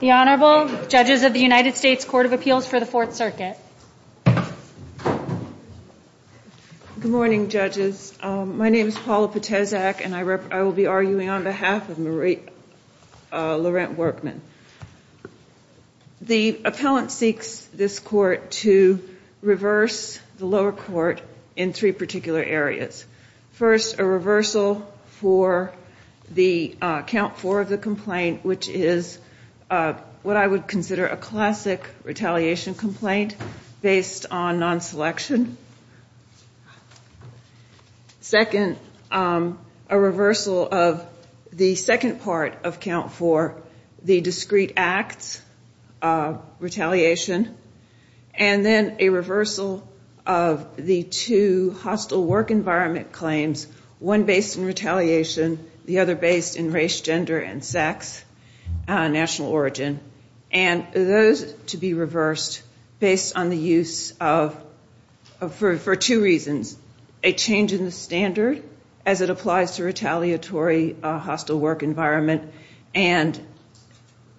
The Honorable Judges of the United States Court of Appeals for the Fourth Circuit. Good morning, judges. My name is Paula Poteczak and I will be arguing on behalf of Marie Laurent-Workman. The appellant seeks this court to reverse the lower court in three particular areas. First, a reversal for the count four of the complaint, which is what I would consider a classic retaliation complaint based on non-selection. Second, a reversal of the second part of count four, the discrete acts retaliation. And then a reversal of the two hostile work environment claims, one based in retaliation, the other based in race, gender, and sex, national origin. And those to be reversed based on the use of, for two reasons, a change in the standard as it applies to retaliatory hostile work environment, and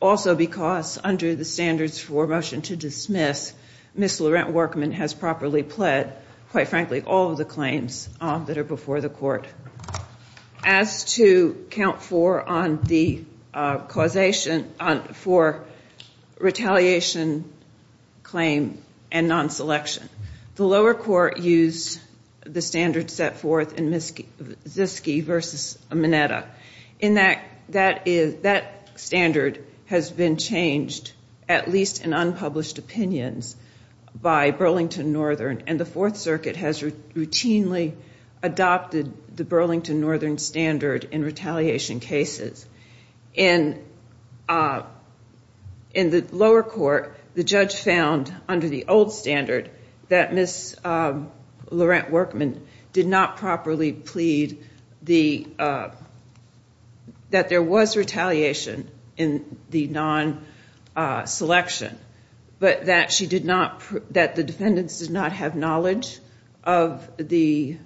also because under the standards for motion to dismiss, Ms. Laurent-Workman has properly pled, quite frankly, all of the claims that are before the court. As to count four on the causation for retaliation claim and non-selection, the lower court used the standards set forth in Ziske v. Mineta. That standard has been changed, at least in unpublished opinions, by Burlington Northern, and the Fourth Circuit has routinely adopted the Burlington Northern standard in retaliation cases. In the lower court, the judge found, under the old standard, that Ms. Laurent-Workman did not properly plead that there was retaliation in the non-selection, but that the defendants did not have knowledge of the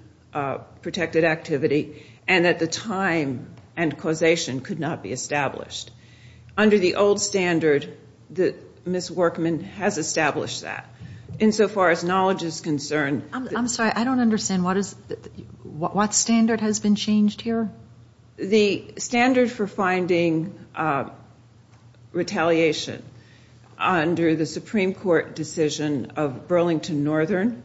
protected activity, and that the time and causation could not be established. Under the old standard, Ms. Workman has established that. Insofar as knowledge is concerned- I'm sorry, I don't understand. What standard has been changed here? The standard for finding retaliation under the Supreme Court decision of Burlington Northern,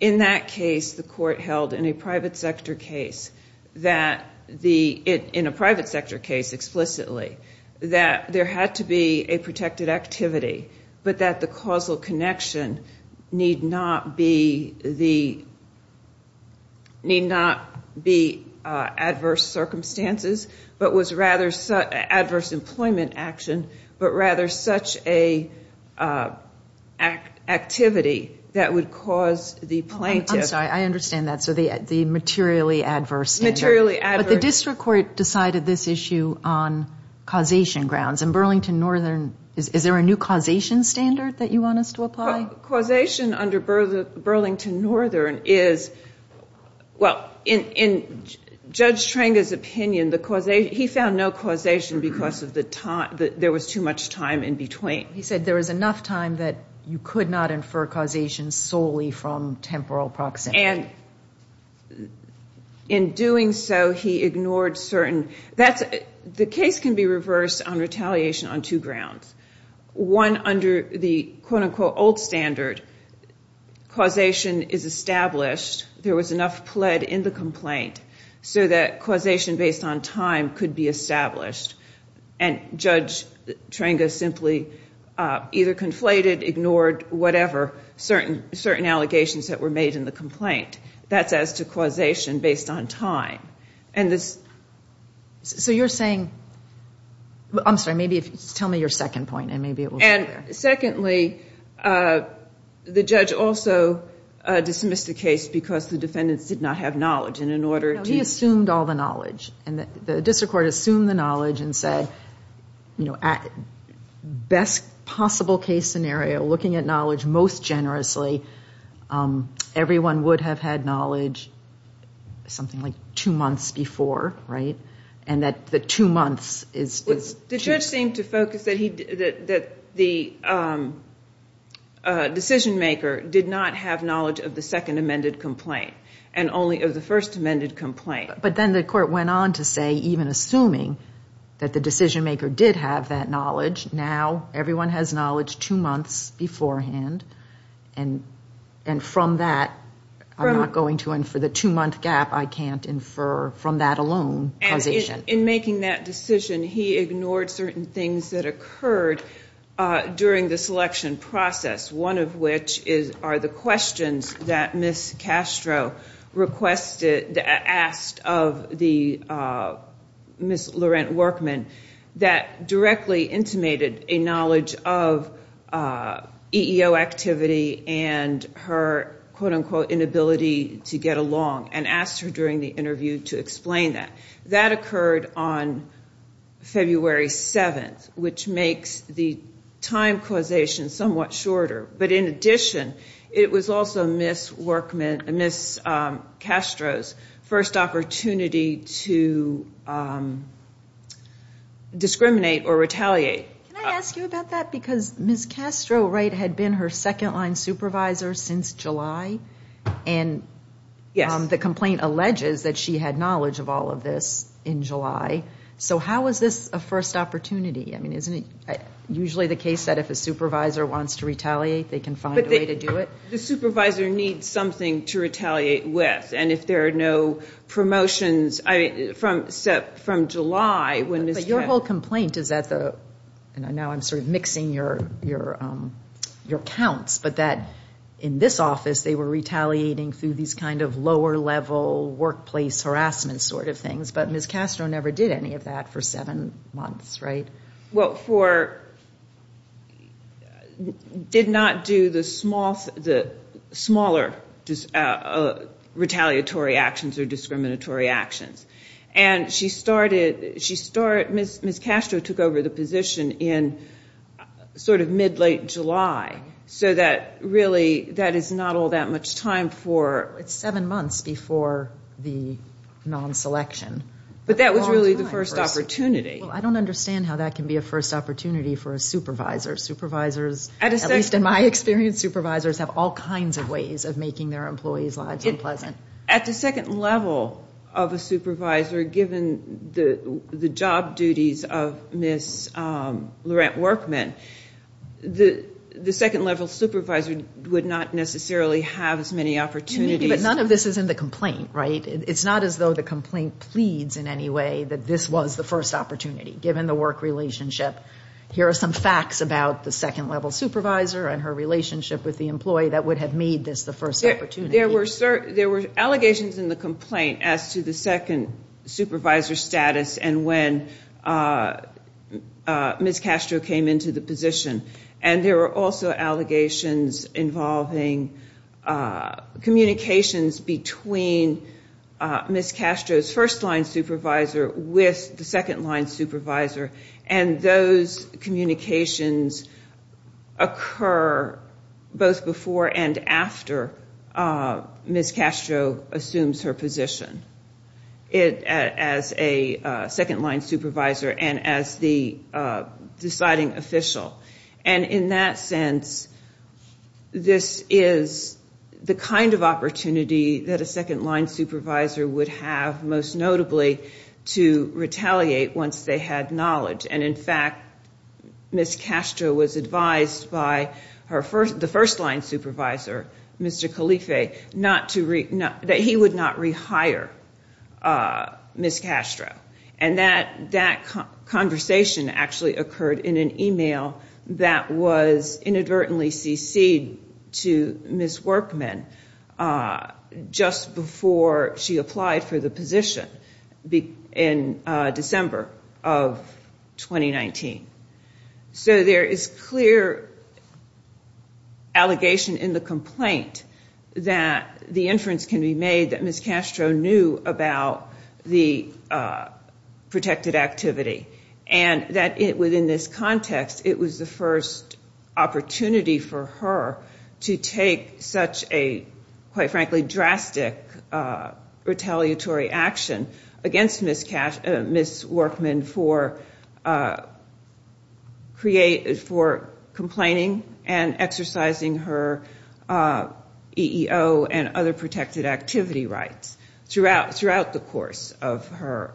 in that case, the court held in a private sector case explicitly that there had to be a protected activity, but that the causal connection need not be adverse circumstances, but was rather adverse employment action, but rather such an activity that would cause the plaintiff- I'm sorry, I understand that. So the materially adverse standard. Materially adverse- But the district court decided this issue on causation grounds. In Burlington Northern, is there a new causation standard that you want us to apply? Causation under Burlington Northern is- well, in Judge Trenga's opinion, he found no causation because there was too much time in between. He said there was enough time that you could not infer causation solely from temporal proximity. And in doing so, he ignored certain- the case can be reversed on retaliation on two grounds. One, under the quote-unquote old standard, causation is established. There was enough pled in the complaint so that causation based on time could be established. And Judge Trenga simply either conflated, ignored, whatever, certain allegations that were made in the complaint. That's as to causation based on time. And this- So you're saying- I'm sorry, maybe tell me your second point and maybe it will- And secondly, the judge also dismissed the case because the defendants did not have knowledge. And in order to- No, he assumed all the knowledge. And the district court assumed the knowledge and said, you know, best possible case scenario, looking at knowledge most generously, everyone would have had knowledge something like two months before, right? And that the two months is- The judge seemed to focus that the decision maker did not have knowledge of the second amended complaint and only of the first amended complaint. But then the court went on to say, even assuming that the decision maker did have that knowledge, now everyone has knowledge two months beforehand. And from that, I'm not going to infer the two-month gap. I can't infer from that alone causation. In making that decision, he ignored certain things that occurred during the selection process, one of which are the questions that Ms. Castro requested- asked of the Ms. Laurent Workman that directly intimated a knowledge of EEO activity and her quote-unquote inability to get along and asked her during the interview to explain that. That occurred on February 7th, which makes the time causation somewhat shorter. But in addition, it was also Ms. Workman- Ms. Castro's first opportunity to discriminate or retaliate. Can I ask you about that? Because Ms. Castro, right, had been her second-line supervisor since July. And the complaint alleges that she had knowledge of all of this in July. So how was this a first opportunity? I mean, isn't it usually the case that if a supervisor wants to retaliate, they can find a way to do it? The supervisor needs something to retaliate with. And if there are no promotions from July when Ms. Castro- But your whole complaint is that the- and now I'm sort of mixing your counts- but that in this office, they were retaliating through these kind of lower-level workplace harassment sort of things. But Ms. Castro never did any of that for seven months, right? Well, for- did not do the smaller retaliatory actions or discriminatory actions. And she started- Ms. Castro took over the position in sort of mid-late July so that really that is not all that much time for- It's seven months before the non-selection. But that was really the first opportunity. Well, I don't understand how that can be a first opportunity for a supervisor. Supervisors, at least in my experience, supervisors have all kinds of ways of making their employees' lives unpleasant. At the second level of a supervisor, given the job duties of Ms. Laurent Workman, the second-level supervisor would not necessarily have as many opportunities- But none of this is in the complaint, right? It's not as though the complaint pleads in any way that this was the first opportunity, given the work relationship. Here are some facts about the second-level supervisor and her relationship with the employee that would have made this the first opportunity. There were allegations in the complaint as to the second supervisor status and when Ms. Castro came into the position. And there were also allegations involving communications between Ms. Castro's first-line supervisor with the second-line supervisor. And those communications occur both before and after Ms. Castro assumes her position. As a second-line supervisor and as the deciding official. And in that sense, this is the kind of opportunity that a second-line supervisor would have, most notably to retaliate once they had knowledge. And in fact, Ms. Castro was advised by the first-line supervisor, Mr. Calife, that he would not rehire Ms. Castro. And that conversation actually occurred in an email that was inadvertently cc'd to Ms. Workman just before she applied for the position in December of 2019. So there is clear allegation in the complaint that the inference can be made that Ms. Castro knew about the protected activity. And that within this context, it was the first opportunity for her to take such a, quite frankly, drastic retaliatory action against Ms. Workman for complaining and exercising her EEO and other protected activity rights throughout the course of her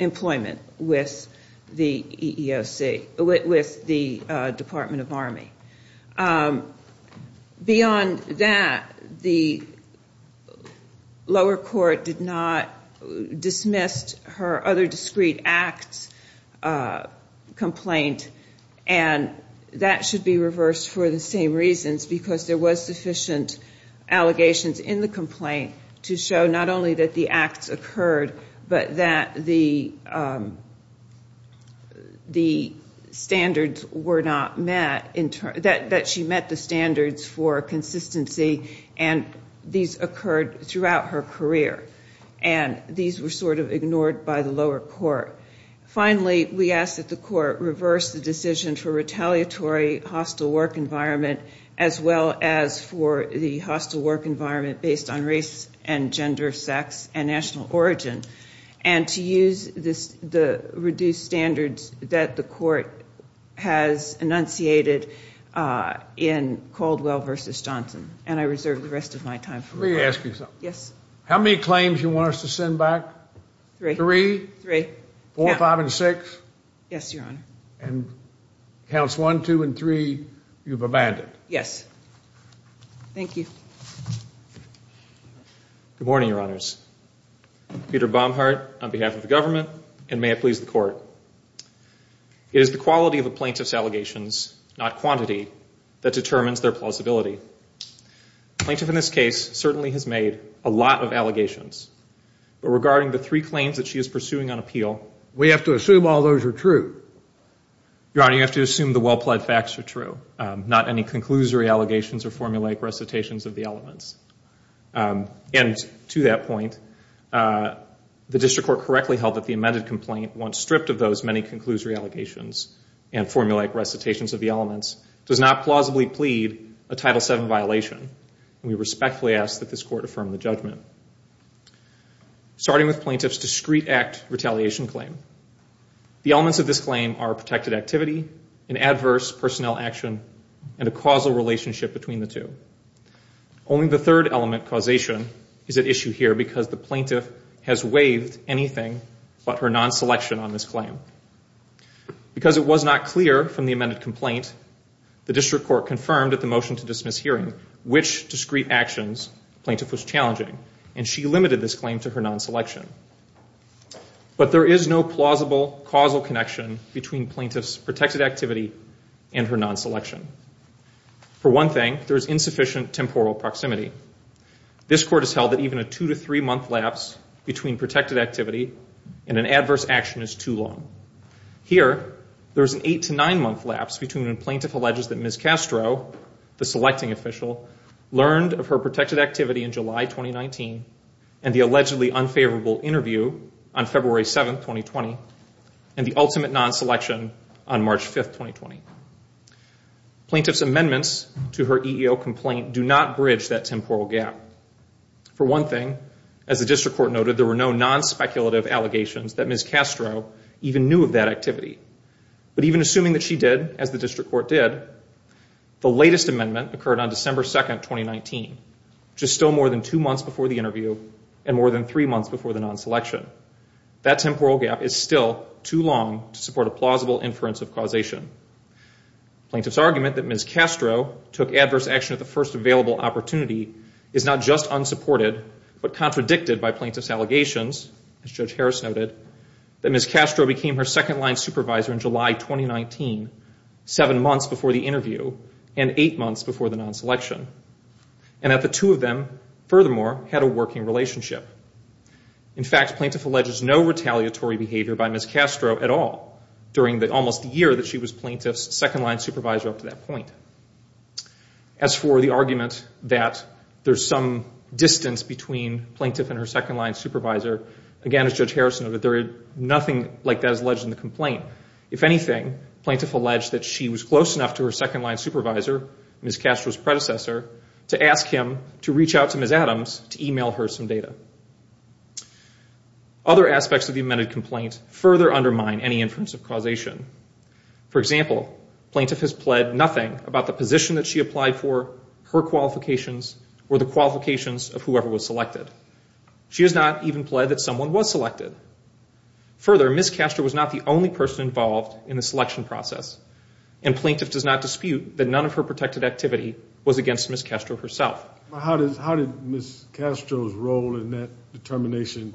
employment with the EEOC, with the Department of Army. Beyond that, the lower court did not dismiss her other discreet acts complaint. And that should be reversed for the same reasons, because there was sufficient allegations in the complaint to show not only that the acts occurred, but that the standards were not met, that she met the standards for consistency, and these occurred throughout her career. And these were sort of ignored by the lower court. Finally, we ask that the court reverse the decision for retaliatory hostile work environment as well as for the hostile work environment based on race and gender, sex, and national origin, and to use the reduced standards that the court has enunciated in Caldwell v. Johnson. And I reserve the rest of my time. Let me ask you something. Yes. How many claims do you want us to send back? Three. Three? Three. Four, five, and six? Yes, Your Honor. And counts one, two, and three, you've abandoned? Yes. Thank you. Good morning, Your Honors. Peter Baumhardt on behalf of the government, and may it please the court. It is the quality of a plaintiff's allegations, not quantity, that determines their plausibility. The plaintiff in this case certainly has made a lot of allegations, but regarding the three claims that she is pursuing on appeal, we have to assume all those are true. Your Honor, you have to assume the well-pled facts are true, not any conclusory allegations or formulaic recitations of the elements. And to that point, the district court correctly held that the amended complaint, once stripped of those many conclusory allegations and formulaic recitations of the elements, does not plausibly plead a Title VII violation, and we respectfully ask that this court affirm the judgment. Starting with plaintiff's discrete act retaliation claim, the elements of this claim are protected activity, an adverse personnel action, and a causal relationship between the two. Only the third element, causation, is at issue here because the plaintiff has waived anything but her non-selection on this claim. Because it was not clear from the amended complaint, the district court confirmed at the motion to dismiss hearing which discrete actions the plaintiff was challenging, and she limited this claim to her non-selection. But there is no plausible causal connection between plaintiff's protected activity and her non-selection. For one thing, there is insufficient temporal proximity. This court has held that even a two- to three-month lapse between protected activity and an adverse action is too long. Here, there is an eight- to nine-month lapse between when plaintiff alleges that Ms. Castro, the selecting official, learned of her protected activity in July 2019 and the allegedly unfavorable interview on February 7, 2020, and the ultimate non-selection on March 5, 2020. Plaintiff's amendments to her EEO complaint do not bridge that temporal gap. For one thing, as the district court noted, there were no non-speculative allegations that Ms. Castro even knew of that activity. But even assuming that she did, as the district court did, the latest amendment occurred on December 2, 2019, which is still more than two months before the interview and more than three months before the non-selection. That temporal gap is still too long to support a plausible inference of causation. Plaintiff's argument that Ms. Castro took adverse action at the first available opportunity that Ms. Castro became her second-line supervisor in July 2019, seven months before the interview and eight months before the non-selection, and that the two of them, furthermore, had a working relationship. In fact, plaintiff alleges no retaliatory behavior by Ms. Castro at all during almost the year that she was plaintiff's second-line supervisor up to that point. As for the argument that there's some distance between plaintiff and her second-line supervisor, again, as Judge Harrison noted, nothing like that is alleged in the complaint. If anything, plaintiff alleged that she was close enough to her second-line supervisor, Ms. Castro's predecessor, to ask him to reach out to Ms. Adams to email her some data. Other aspects of the amended complaint further undermine any inference of causation. For example, plaintiff has pled nothing about the position that she applied for, her qualifications, or the qualifications of whoever was selected. She has not even pled that someone was selected. Further, Ms. Castro was not the only person involved in the selection process, and plaintiff does not dispute that none of her protected activity was against Ms. Castro herself. How did Ms. Castro's role in that determination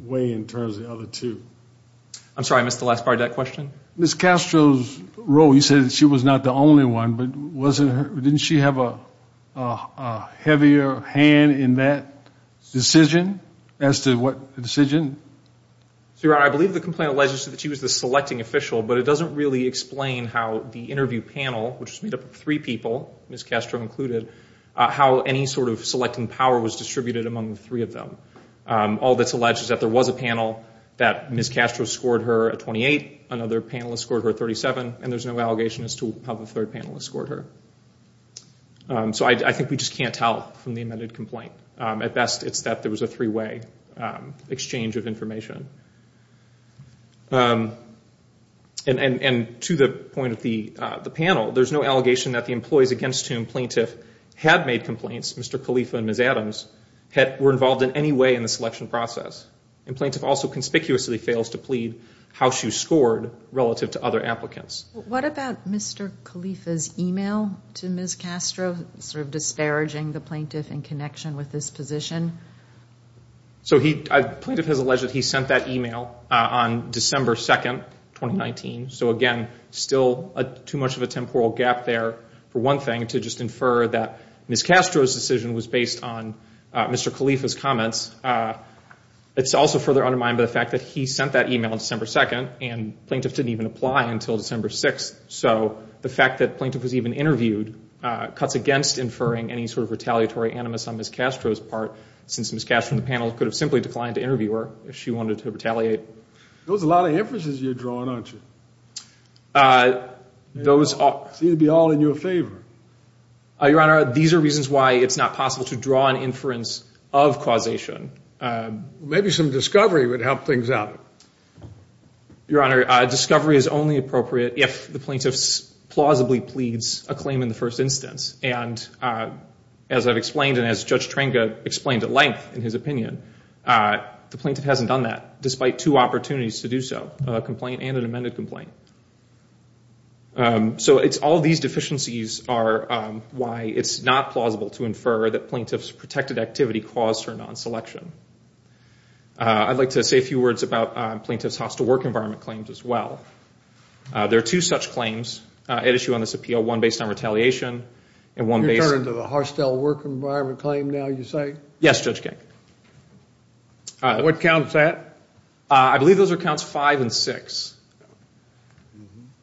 weigh in terms of the other two? I'm sorry, I missed the last part of that question. Ms. Castro's role, you said she was not the only one, but didn't she have a heavier hand in that decision as to what decision? Your Honor, I believe the complaint alleges that she was the selecting official, but it doesn't really explain how the interview panel, which was made up of three people, Ms. Castro included, how any sort of selecting power was distributed among the three of them. All that's alleged is that there was a panel that Ms. Castro scored her a 28, another panelist scored her a 37, and there's no allegation as to how the third panelist scored her. So I think we just can't tell from the amended complaint. At best, it's that there was a three-way exchange of information. And to the point of the panel, there's no allegation that the employees against whom And plaintiff also conspicuously fails to plead how she was scored relative to other applicants. What about Mr. Khalifa's email to Ms. Castro, sort of disparaging the plaintiff in connection with his position? So the plaintiff has alleged that he sent that email on December 2, 2019. So, again, still too much of a temporal gap there, for one thing, to just infer that Ms. Castro's decision was based on Mr. Khalifa's comments. It's also further undermined by the fact that he sent that email on December 2, and plaintiff didn't even apply until December 6. So the fact that plaintiff was even interviewed cuts against inferring any sort of retaliatory animus on Ms. Castro's part, since Ms. Castro and the panel could have simply declined to interview her if she wanted to retaliate. Those are a lot of inferences you're drawing, aren't you? It would be all in your favor. Your Honor, these are reasons why it's not possible to draw an inference of causation. Maybe some discovery would help things out. Your Honor, discovery is only appropriate if the plaintiff plausibly pleads a claim in the first instance. And as I've explained and as Judge Trenga explained at length in his opinion, the plaintiff hasn't done that, despite two opportunities to do so, a complaint and an amended complaint. So it's all these deficiencies are why it's not plausible to infer that plaintiff's protected activity caused her non-selection. I'd like to say a few words about plaintiff's hostile work environment claims as well. There are two such claims at issue on this appeal, one based on retaliation and one based on- You're turning to the hostile work environment claim now, you say? Yes, Judge King. What counts that? I believe those are counts five and six.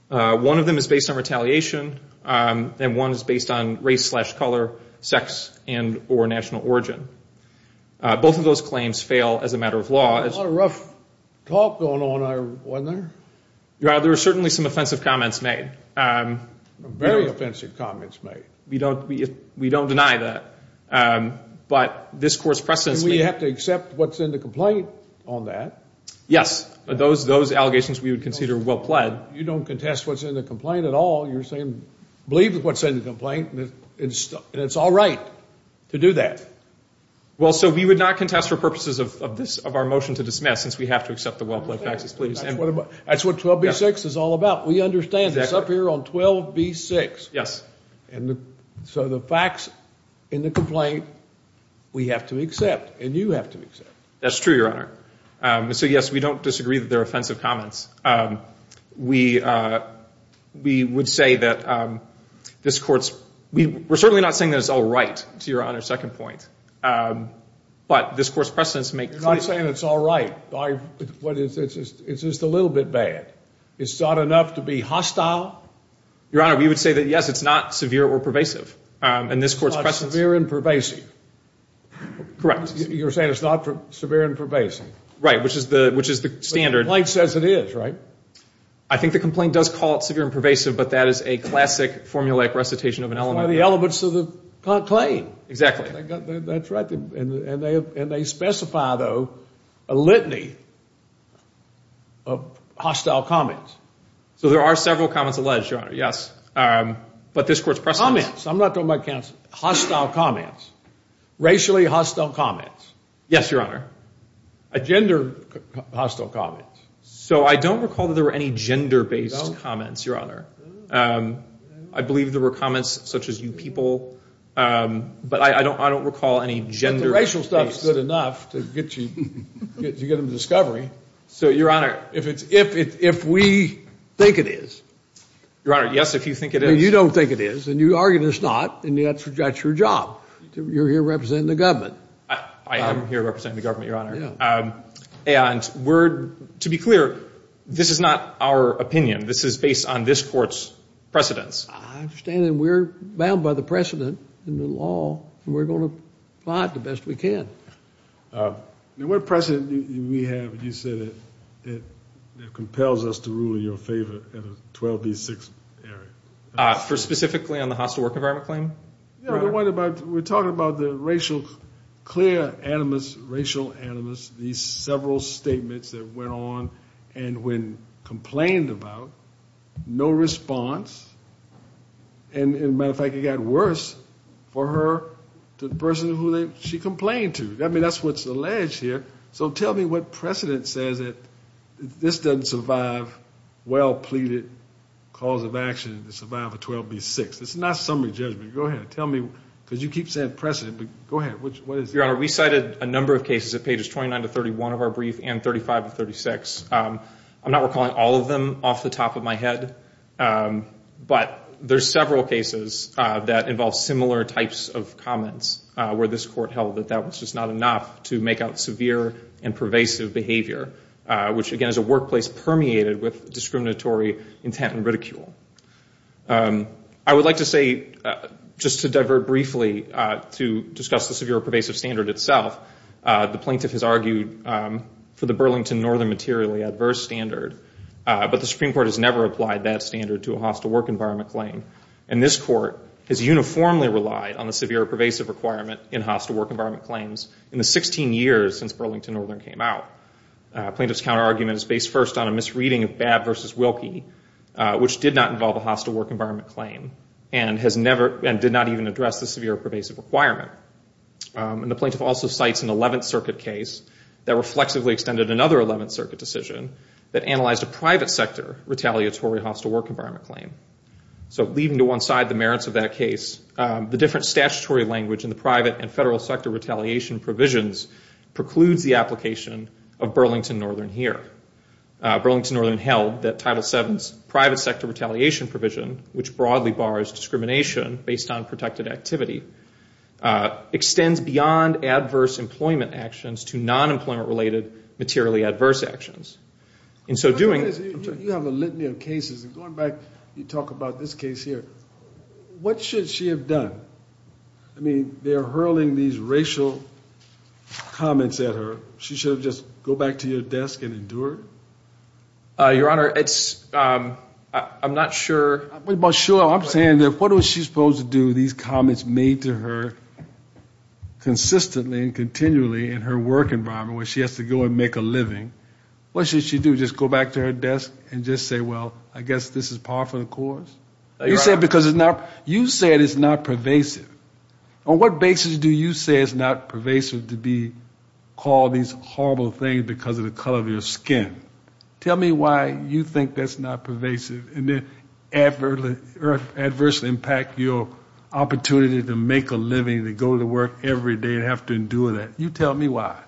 One of them is based on retaliation and one is based on race slash color, sex, and or national origin. Both of those claims fail as a matter of law. There was a lot of rough talk going on, wasn't there? Your Honor, there were certainly some offensive comments made. Very offensive comments made. We don't deny that. But this Court's precedence- Do we have to accept what's in the complaint on that? Yes. Those allegations we would consider well pled. You don't contest what's in the complaint at all. You're saying believe what's in the complaint and it's all right to do that. Well, so we would not contest for purposes of our motion to dismiss since we have to accept the well pled faxes, please. That's what 12b-6 is all about. We understand this. It's up here on 12b-6. Yes. So the fax in the complaint we have to accept and you have to accept. That's true, Your Honor. So, yes, we don't disagree that they're offensive comments. We would say that this Court's-we're certainly not saying that it's all right, to Your Honor's second point. But this Court's precedence makes- You're not saying it's all right. It's just a little bit bad. It's not enough to be hostile. Your Honor, we would say that, yes, it's not severe or pervasive in this Court's precedence. It's not severe and pervasive. Correct. You're saying it's not severe and pervasive. Right, which is the standard. The complaint says it is, right? I think the complaint does call it severe and pervasive, but that is a classic formulaic recitation of an element. It's one of the elements of the complaint. Exactly. That's right. And they specify, though, a litany of hostile comments. So there are several comments alleged, Your Honor. Yes. But this Court's precedence- Comments. I'm not talking about counsel. Hostile comments. Racially hostile comments. Yes, Your Honor. Gender hostile comments. So I don't recall that there were any gender-based comments, Your Honor. I believe there were comments such as you people, but I don't recall any gender-based- The racial stuff's good enough to get you to get them to discovery. So, Your Honor, if we think it is- Your Honor, yes, if you think it is- You don't think it is, and you argue it's not, and that's your job. You're here representing the government. I am here representing the government, Your Honor. Yeah. To be clear, this is not our opinion. This is based on this Court's precedence. I understand, and we're bound by the precedent in the law, and we're going to apply it the best we can. What precedent do we have, you said, that compels us to rule in your favor in the 12B6 area? Specifically on the hostile work environment claim? We're talking about the racial, clear animus, racial animus, these several statements that went on, and when complained about, no response. And, as a matter of fact, it got worse for her to the person who she complained to. I mean, that's what's alleged here. So tell me what precedent says that this doesn't survive well-pleaded cause of action to survive a 12B6. It's not summary judgment. Go ahead. Tell me, because you keep saying precedent, but go ahead. What is it? Your Honor, we cited a number of cases at pages 29 to 31 of our brief and 35 to 36. I'm not recalling all of them off the top of my head, but there's several cases that involve similar types of comments where this Court held that that was just not enough to make out severe and pervasive behavior, which, again, is a workplace permeated with discriminatory intent and ridicule. I would like to say, just to divert briefly to discuss the severe pervasive standard itself, the plaintiff has argued for the Burlington Northern materially adverse standard, but the Supreme Court has never applied that standard to a hostile work environment claim. And this Court has uniformly relied on the severe pervasive requirement in hostile work environment claims in the 16 years since Burlington Northern came out. Plaintiff's counterargument is based first on a misreading of Babb v. Wilkie, which did not involve a hostile work environment claim and did not even address the severe pervasive requirement. And the plaintiff also cites an 11th Circuit case that reflexively extended another 11th Circuit decision that analyzed a private sector retaliatory hostile work environment claim. So leaving to one side the merits of that case, the different statutory language in the private and federal sector retaliation provisions precludes the application of Burlington Northern here. Burlington Northern held that Title VII's private sector retaliation provision, which broadly bars discrimination based on protected activity, extends beyond adverse employment actions to non-employment related materially adverse actions. In so doing... They're hurling these racial comments at her. She should have just go back to your desk and endure it? Your Honor, it's... I'm not sure... But sure, I'm saying that what was she supposed to do with these comments made to her consistently and continually in her work environment where she has to go and make a living? What should she do? Just go back to her desk and just say, well, I guess this is par for the course? You said because it's not... You said it's not pervasive. On what basis do you say it's not pervasive to be called these horrible things because of the color of your skin? Tell me why you think that's not pervasive and adversely impact your opportunity to make a living, to go to work every day and have to endure that. You tell me why.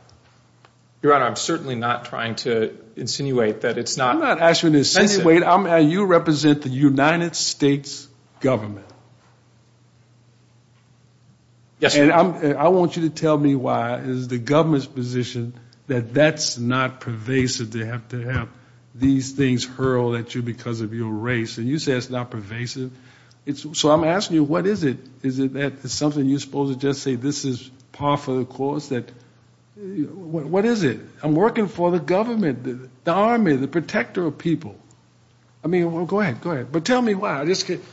Your Honor, I'm certainly not trying to insinuate that it's not... I'm not asking you to insinuate. You represent the United States government. Yes, Your Honor. And I want you to tell me why is the government's position that that's not pervasive, to have to have these things hurled at you because of your race. And you say it's not pervasive. So I'm asking you, what is it? Is it something you're supposed to just say this is par for the course? What is it? I'm working for the government, the Army, the protector of people. I mean, go ahead. Go ahead. But tell me why.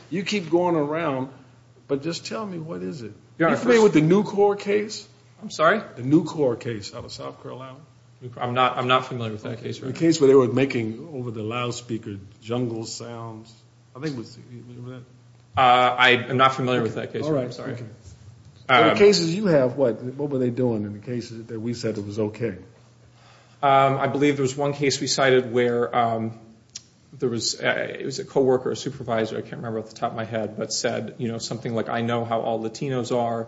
You keep going around, but just tell me what is it. Are you familiar with the New Corps case? I'm sorry? The New Corps case out of South Carolina? I'm not familiar with that case, Your Honor. The case where they were making, over the loudspeaker, jungle sounds. I am not familiar with that case, Your Honor. All right. I'm sorry. In the cases you have, what were they doing in the cases that we said it was okay? I believe there was one case we cited where there was a co-worker, a supervisor, I can't remember off the top of my head, but said something like, I know how all Latinos are.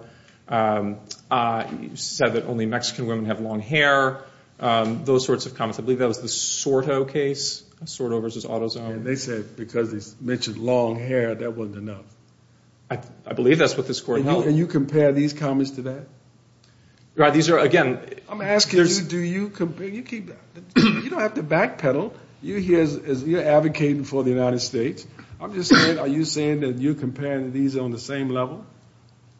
He said that only Mexican women have long hair, those sorts of comments. I believe that was the Sorto case, Sorto versus Autozone. And they said because he mentioned long hair, that wasn't enough. I believe that's what this court held. And you compare these comments to that? These are, again, I'm asking you, do you compare, you don't have to backpedal. You're here advocating for the United States. I'm just saying, are you saying that you're comparing these on the same level?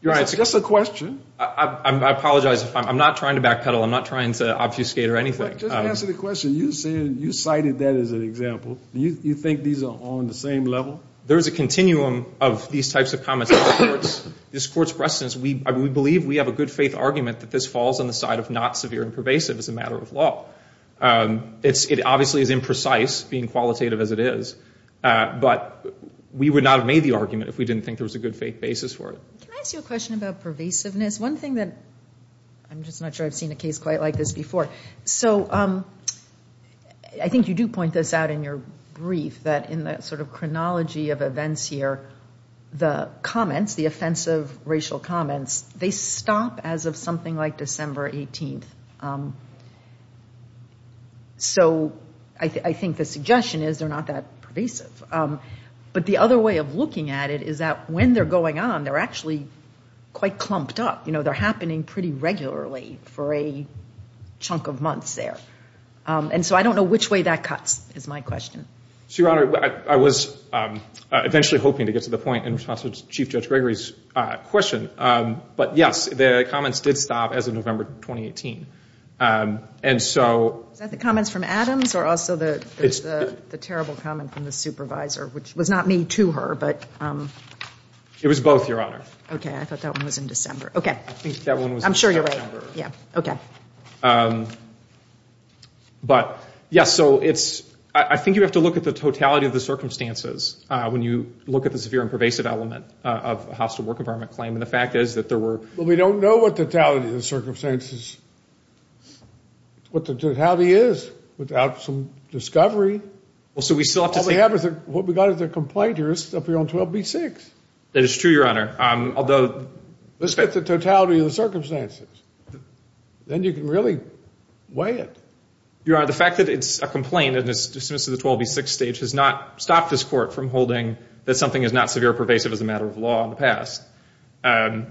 It's just a question. I apologize. I'm not trying to backpedal. I'm not trying to obfuscate or anything. Just answer the question. You cited that as an example. You think these are on the same level? There is a continuum of these types of comments. This court's precedence, we believe we have a good faith argument that this falls on the side of not severe and pervasive as a matter of law. It obviously is imprecise, being qualitative as it is. But we would not have made the argument if we didn't think there was a good faith basis for it. Can I ask you a question about pervasiveness? One thing that, I'm just not sure I've seen a case quite like this before. So I think you do point this out in your brief that in the sort of chronology of events here, the comments, the offensive racial comments, they stop as of something like December 18th. So I think the suggestion is they're not that pervasive. But the other way of looking at it is that when they're going on, they're actually quite clumped up. They're happening pretty regularly for a chunk of months there. And so I don't know which way that cuts is my question. Your Honor, I was eventually hoping to get to the point in response to Chief Judge Gregory's question. But yes, the comments did stop as of November 2018. Is that the comments from Adams or also the terrible comment from the supervisor, which was not made to her? It was both, Your Honor. Okay, I thought that one was in December. Okay. I'm sure you're right. Yeah. Okay. But, yes, so it's, I think you have to look at the totality of the circumstances when you look at the severe and pervasive element of a hostile work environment claim. And the fact is that there were. Well, we don't know what the totality of the circumstances, what the totality is without some discovery. Well, so we still have to say. All we have is, what we got is a complaint here. It's up here on 12B-6. That is true, Your Honor. Although. Let's get the totality of the circumstances. Then you can really weigh it. Your Honor, the fact that it's a complaint and it's dismissed at the 12B-6 stage has not stopped this court from holding that something is not severe or pervasive as a matter of law in the past. And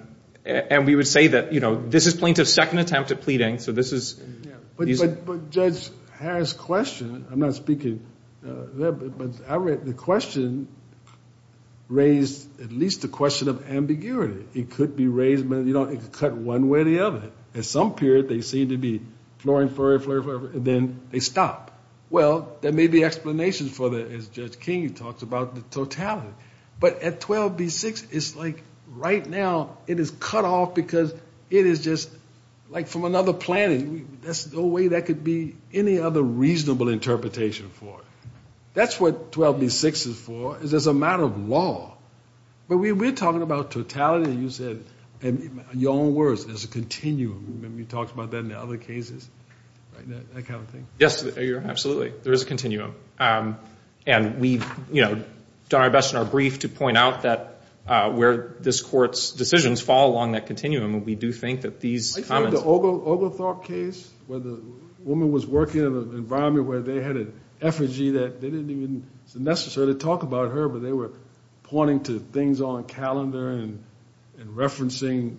we would say that, you know, this is plaintiff's second attempt at pleading. So this is. But Judge Harris' question, I'm not speaking. The question raised at least a question of ambiguity. It could be raised, you know, it could cut one way or the other. At some period, they seem to be flurry, flurry, flurry, flurry, and then they stop. Well, there may be explanations for that, as Judge King talks about the totality. But at 12B-6, it's like right now it is cut off because it is just like from another planet. There's no way that could be any other reasonable interpretation for it. That's what 12B-6 is for, is as a matter of law. But we're talking about totality. You said, in your own words, there's a continuum. You talked about that in other cases, that kind of thing. Yes, Your Honor, absolutely. There is a continuum. And we've done our best in our brief to point out where this court's decisions fall along that continuum. And we do think that these comments. Are you talking about the Oglethorpe case where the woman was working in an environment where they had an effigy that they didn't even necessarily talk about her, but they were pointing to things on a calendar and referencing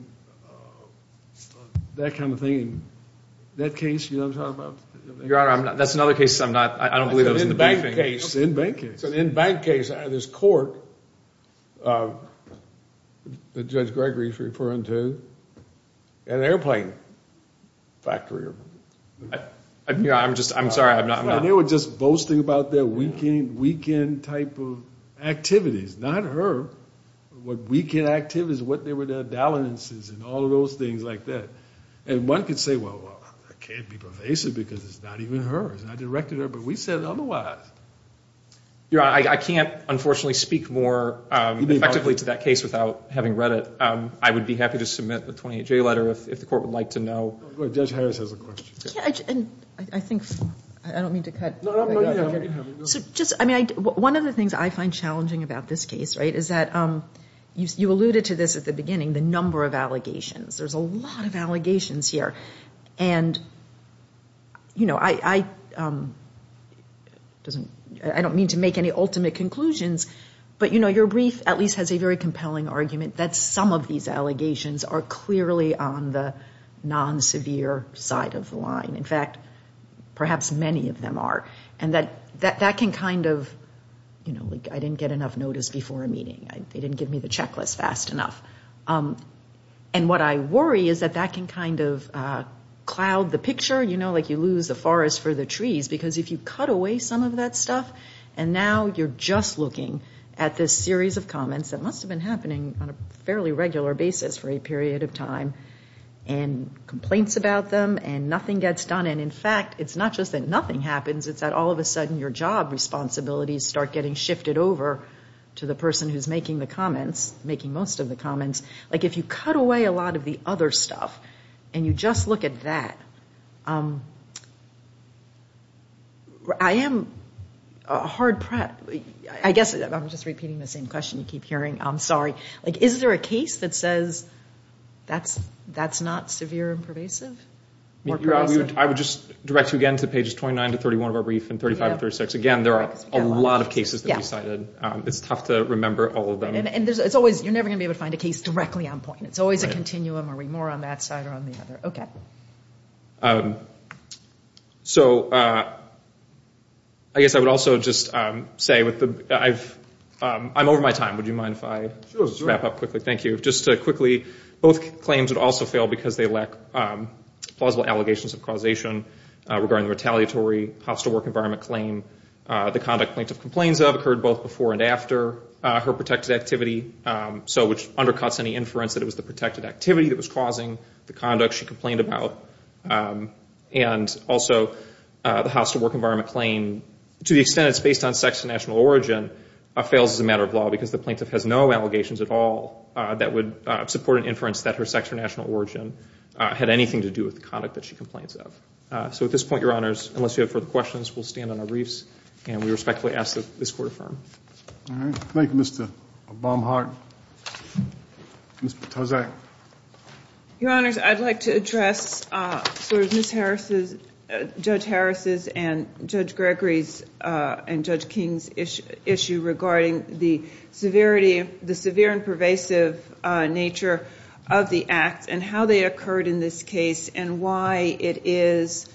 that kind of thing. That case, you know what I'm talking about? Your Honor, that's another case I'm not, I don't believe that was in the briefing. It's an in-bank case. It's an in-bank case. There's a court that Judge Gregory is referring to, an airplane factory. I'm just, I'm sorry, I'm not. And they were just boasting about their weekend type of activities. Not her. What weekend activities, what they were their dalliances and all of those things like that. And one could say, well, I can't be pervasive because it's not even her. It's not directed at her. But we said otherwise. Your Honor, I can't, unfortunately, speak more effectively to that case without having read it. I would be happy to submit a 28-J letter if the court would like to know. Judge Harris has a question. I think, I don't mean to cut. So just, I mean, one of the things I find challenging about this case, right, is that you alluded to this at the beginning, the number of allegations. There's a lot of allegations here. And, you know, I don't mean to make any ultimate conclusions, but, you know, your brief at least has a very compelling argument that some of these allegations are clearly on the non-severe side of the line. In fact, perhaps many of them are. And that can kind of, you know, I didn't get enough notice before a meeting. They didn't give me the checklist fast enough. And what I worry is that that can kind of cloud the picture, you know, like you lose the forest for the trees. Because if you cut away some of that stuff and now you're just looking at this series of comments that must have been happening on a fairly regular basis for a period of time and complaints about them and nothing gets done. And, in fact, it's not just that nothing happens. It's that all of a sudden your job responsibilities start getting shifted over to the person who's making the comments, making most of the comments. Like if you cut away a lot of the other stuff and you just look at that, I am hard prepped. I guess I'm just repeating the same question you keep hearing. I'm sorry. Like is there a case that says that's not severe and pervasive? I would just direct you again to pages 29 to 31 of our brief and 35 to 36. Again, there are a lot of cases that we cited. It's tough to remember all of them. And you're never going to be able to find a case directly on point. It's always a continuum. Are we more on that side or on the other? Okay. So I guess I would also just say I'm over my time. Would you mind if I wrap up quickly? Sure. Thank you. Just quickly, both claims would also fail because they lack plausible allegations of causation regarding the retaliatory hostile work environment claim. The conduct plaintiff complains of occurred both before and after her protected activity, which undercuts any inference that it was the protected activity that was causing the conduct she complained about. And also the hostile work environment claim, to the extent it's based on sex and national origin, fails as a matter of law because the plaintiff has no allegations at all that would support an inference that her sex or national origin had anything to do with the conduct that she complains of. So at this point, Your Honors, unless you have further questions, we'll stand on our reefs and we respectfully ask that this Court affirm. All right. Thank you, Mr. Baumhardt. Ms. Patozak? Your Honors, I'd like to address Judge Harris' and Judge Gregory's and Judge King's issue regarding the severe and pervasive nature of the act and how they occurred in this case and why it is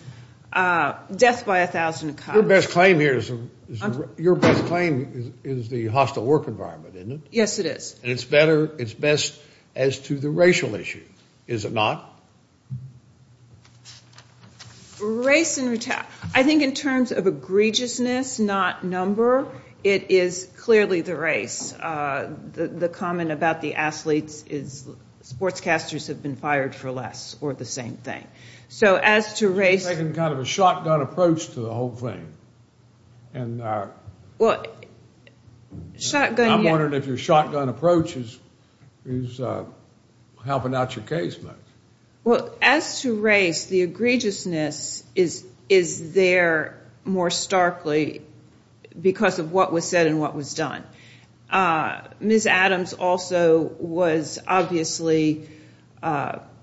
death by a thousand cuts. Your best claim here is the hostile work environment, isn't it? Yes, it is. And it's better, it's best as to the racial issue, is it not? Race and retaliation. I think in terms of egregiousness, not number, it is clearly the race. The comment about the athletes is sportscasters have been fired for less or the same thing. So as to race- You're taking kind of a shotgun approach to the whole thing. I'm wondering if your shotgun approach is helping out your case much. Well, as to race, the egregiousness is there more starkly because of what was said and what was done. Ms. Adams also was obviously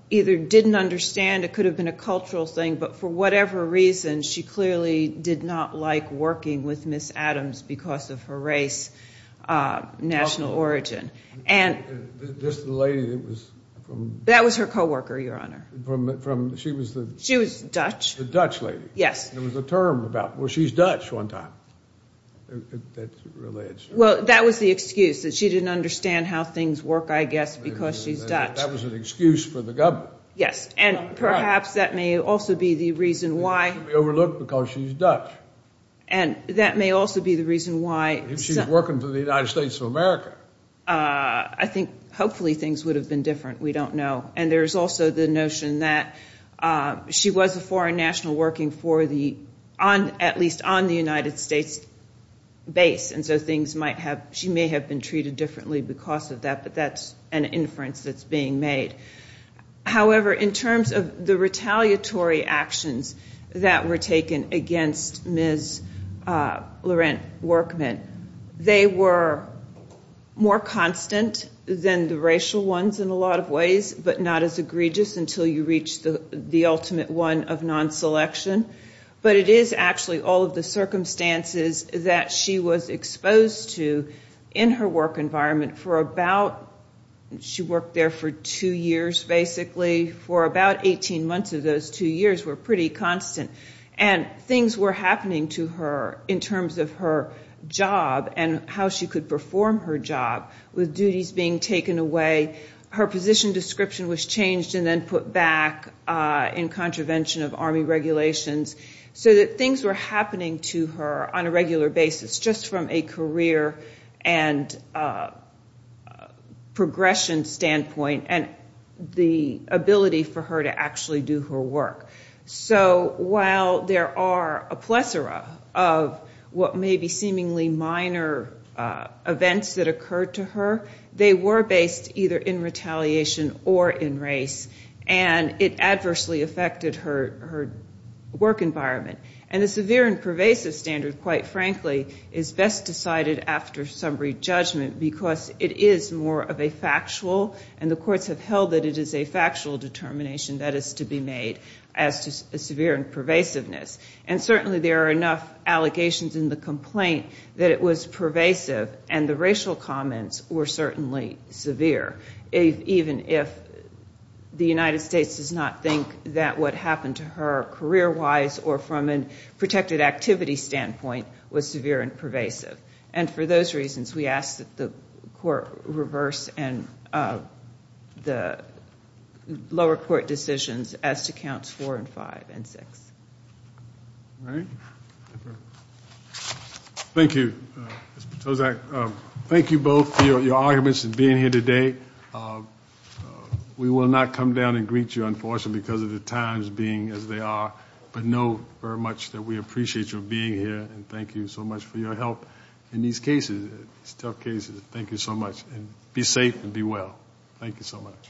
either didn't understand, it could have been a cultural thing, but for whatever reason, she clearly did not like working with Ms. Adams because of her race, national origin. Just the lady that was from- That was her co-worker, Your Honor. She was the- She was Dutch. The Dutch lady. Yes. There was a term about, well, she's Dutch one time. Well, that was the excuse that she didn't understand how things work, I guess, because she's Dutch. That was an excuse for the government. Yes, and perhaps that may also be the reason why- She should be overlooked because she's Dutch. And that may also be the reason why- If she's working for the United States of America. I think hopefully things would have been different. We don't know. And there's also the notion that she was a foreign national working for the- at least on the United States base. And so she may have been treated differently because of that, but that's an inference that's being made. However, in terms of the retaliatory actions that were taken against Ms. Laurent Workman, they were more constant than the racial ones in a lot of ways, but not as egregious until you reach the ultimate one of non-selection. But it is actually all of the circumstances that she was exposed to in her work environment for about- she worked there for two years, basically. For about 18 months of those two years were pretty constant. And things were happening to her in terms of her job and how she could perform her job with duties being taken away. Her position description was changed and then put back in contravention of Army regulations so that things were happening to her on a regular basis just from a career and progression standpoint and the ability for her to actually do her work. So while there are a plethora of what may be seemingly minor events that occurred to her, they were based either in retaliation or in race, and it adversely affected her work environment. And the severe and pervasive standard, quite frankly, is best decided after summary judgment because it is more of a factual- and the courts have held that it is a factual determination that is to be made as to severe and pervasiveness. And certainly there are enough allegations in the complaint that it was pervasive and the racial comments were certainly severe, even if the United States does not think that what happened to her career-wise or from a protected activity standpoint was severe and pervasive. And for those reasons, we ask that the court reverse the lower court decisions as to counts four and five and six. All right. Thank you, Ms. Potosak. Thank you both for your arguments and being here today. We will not come down and greet you, unfortunately, because of the times being as they are, but know very much that we appreciate you being here, and thank you so much for your help in these cases, these tough cases. Thank you so much. Be safe and be well. Thank you so much.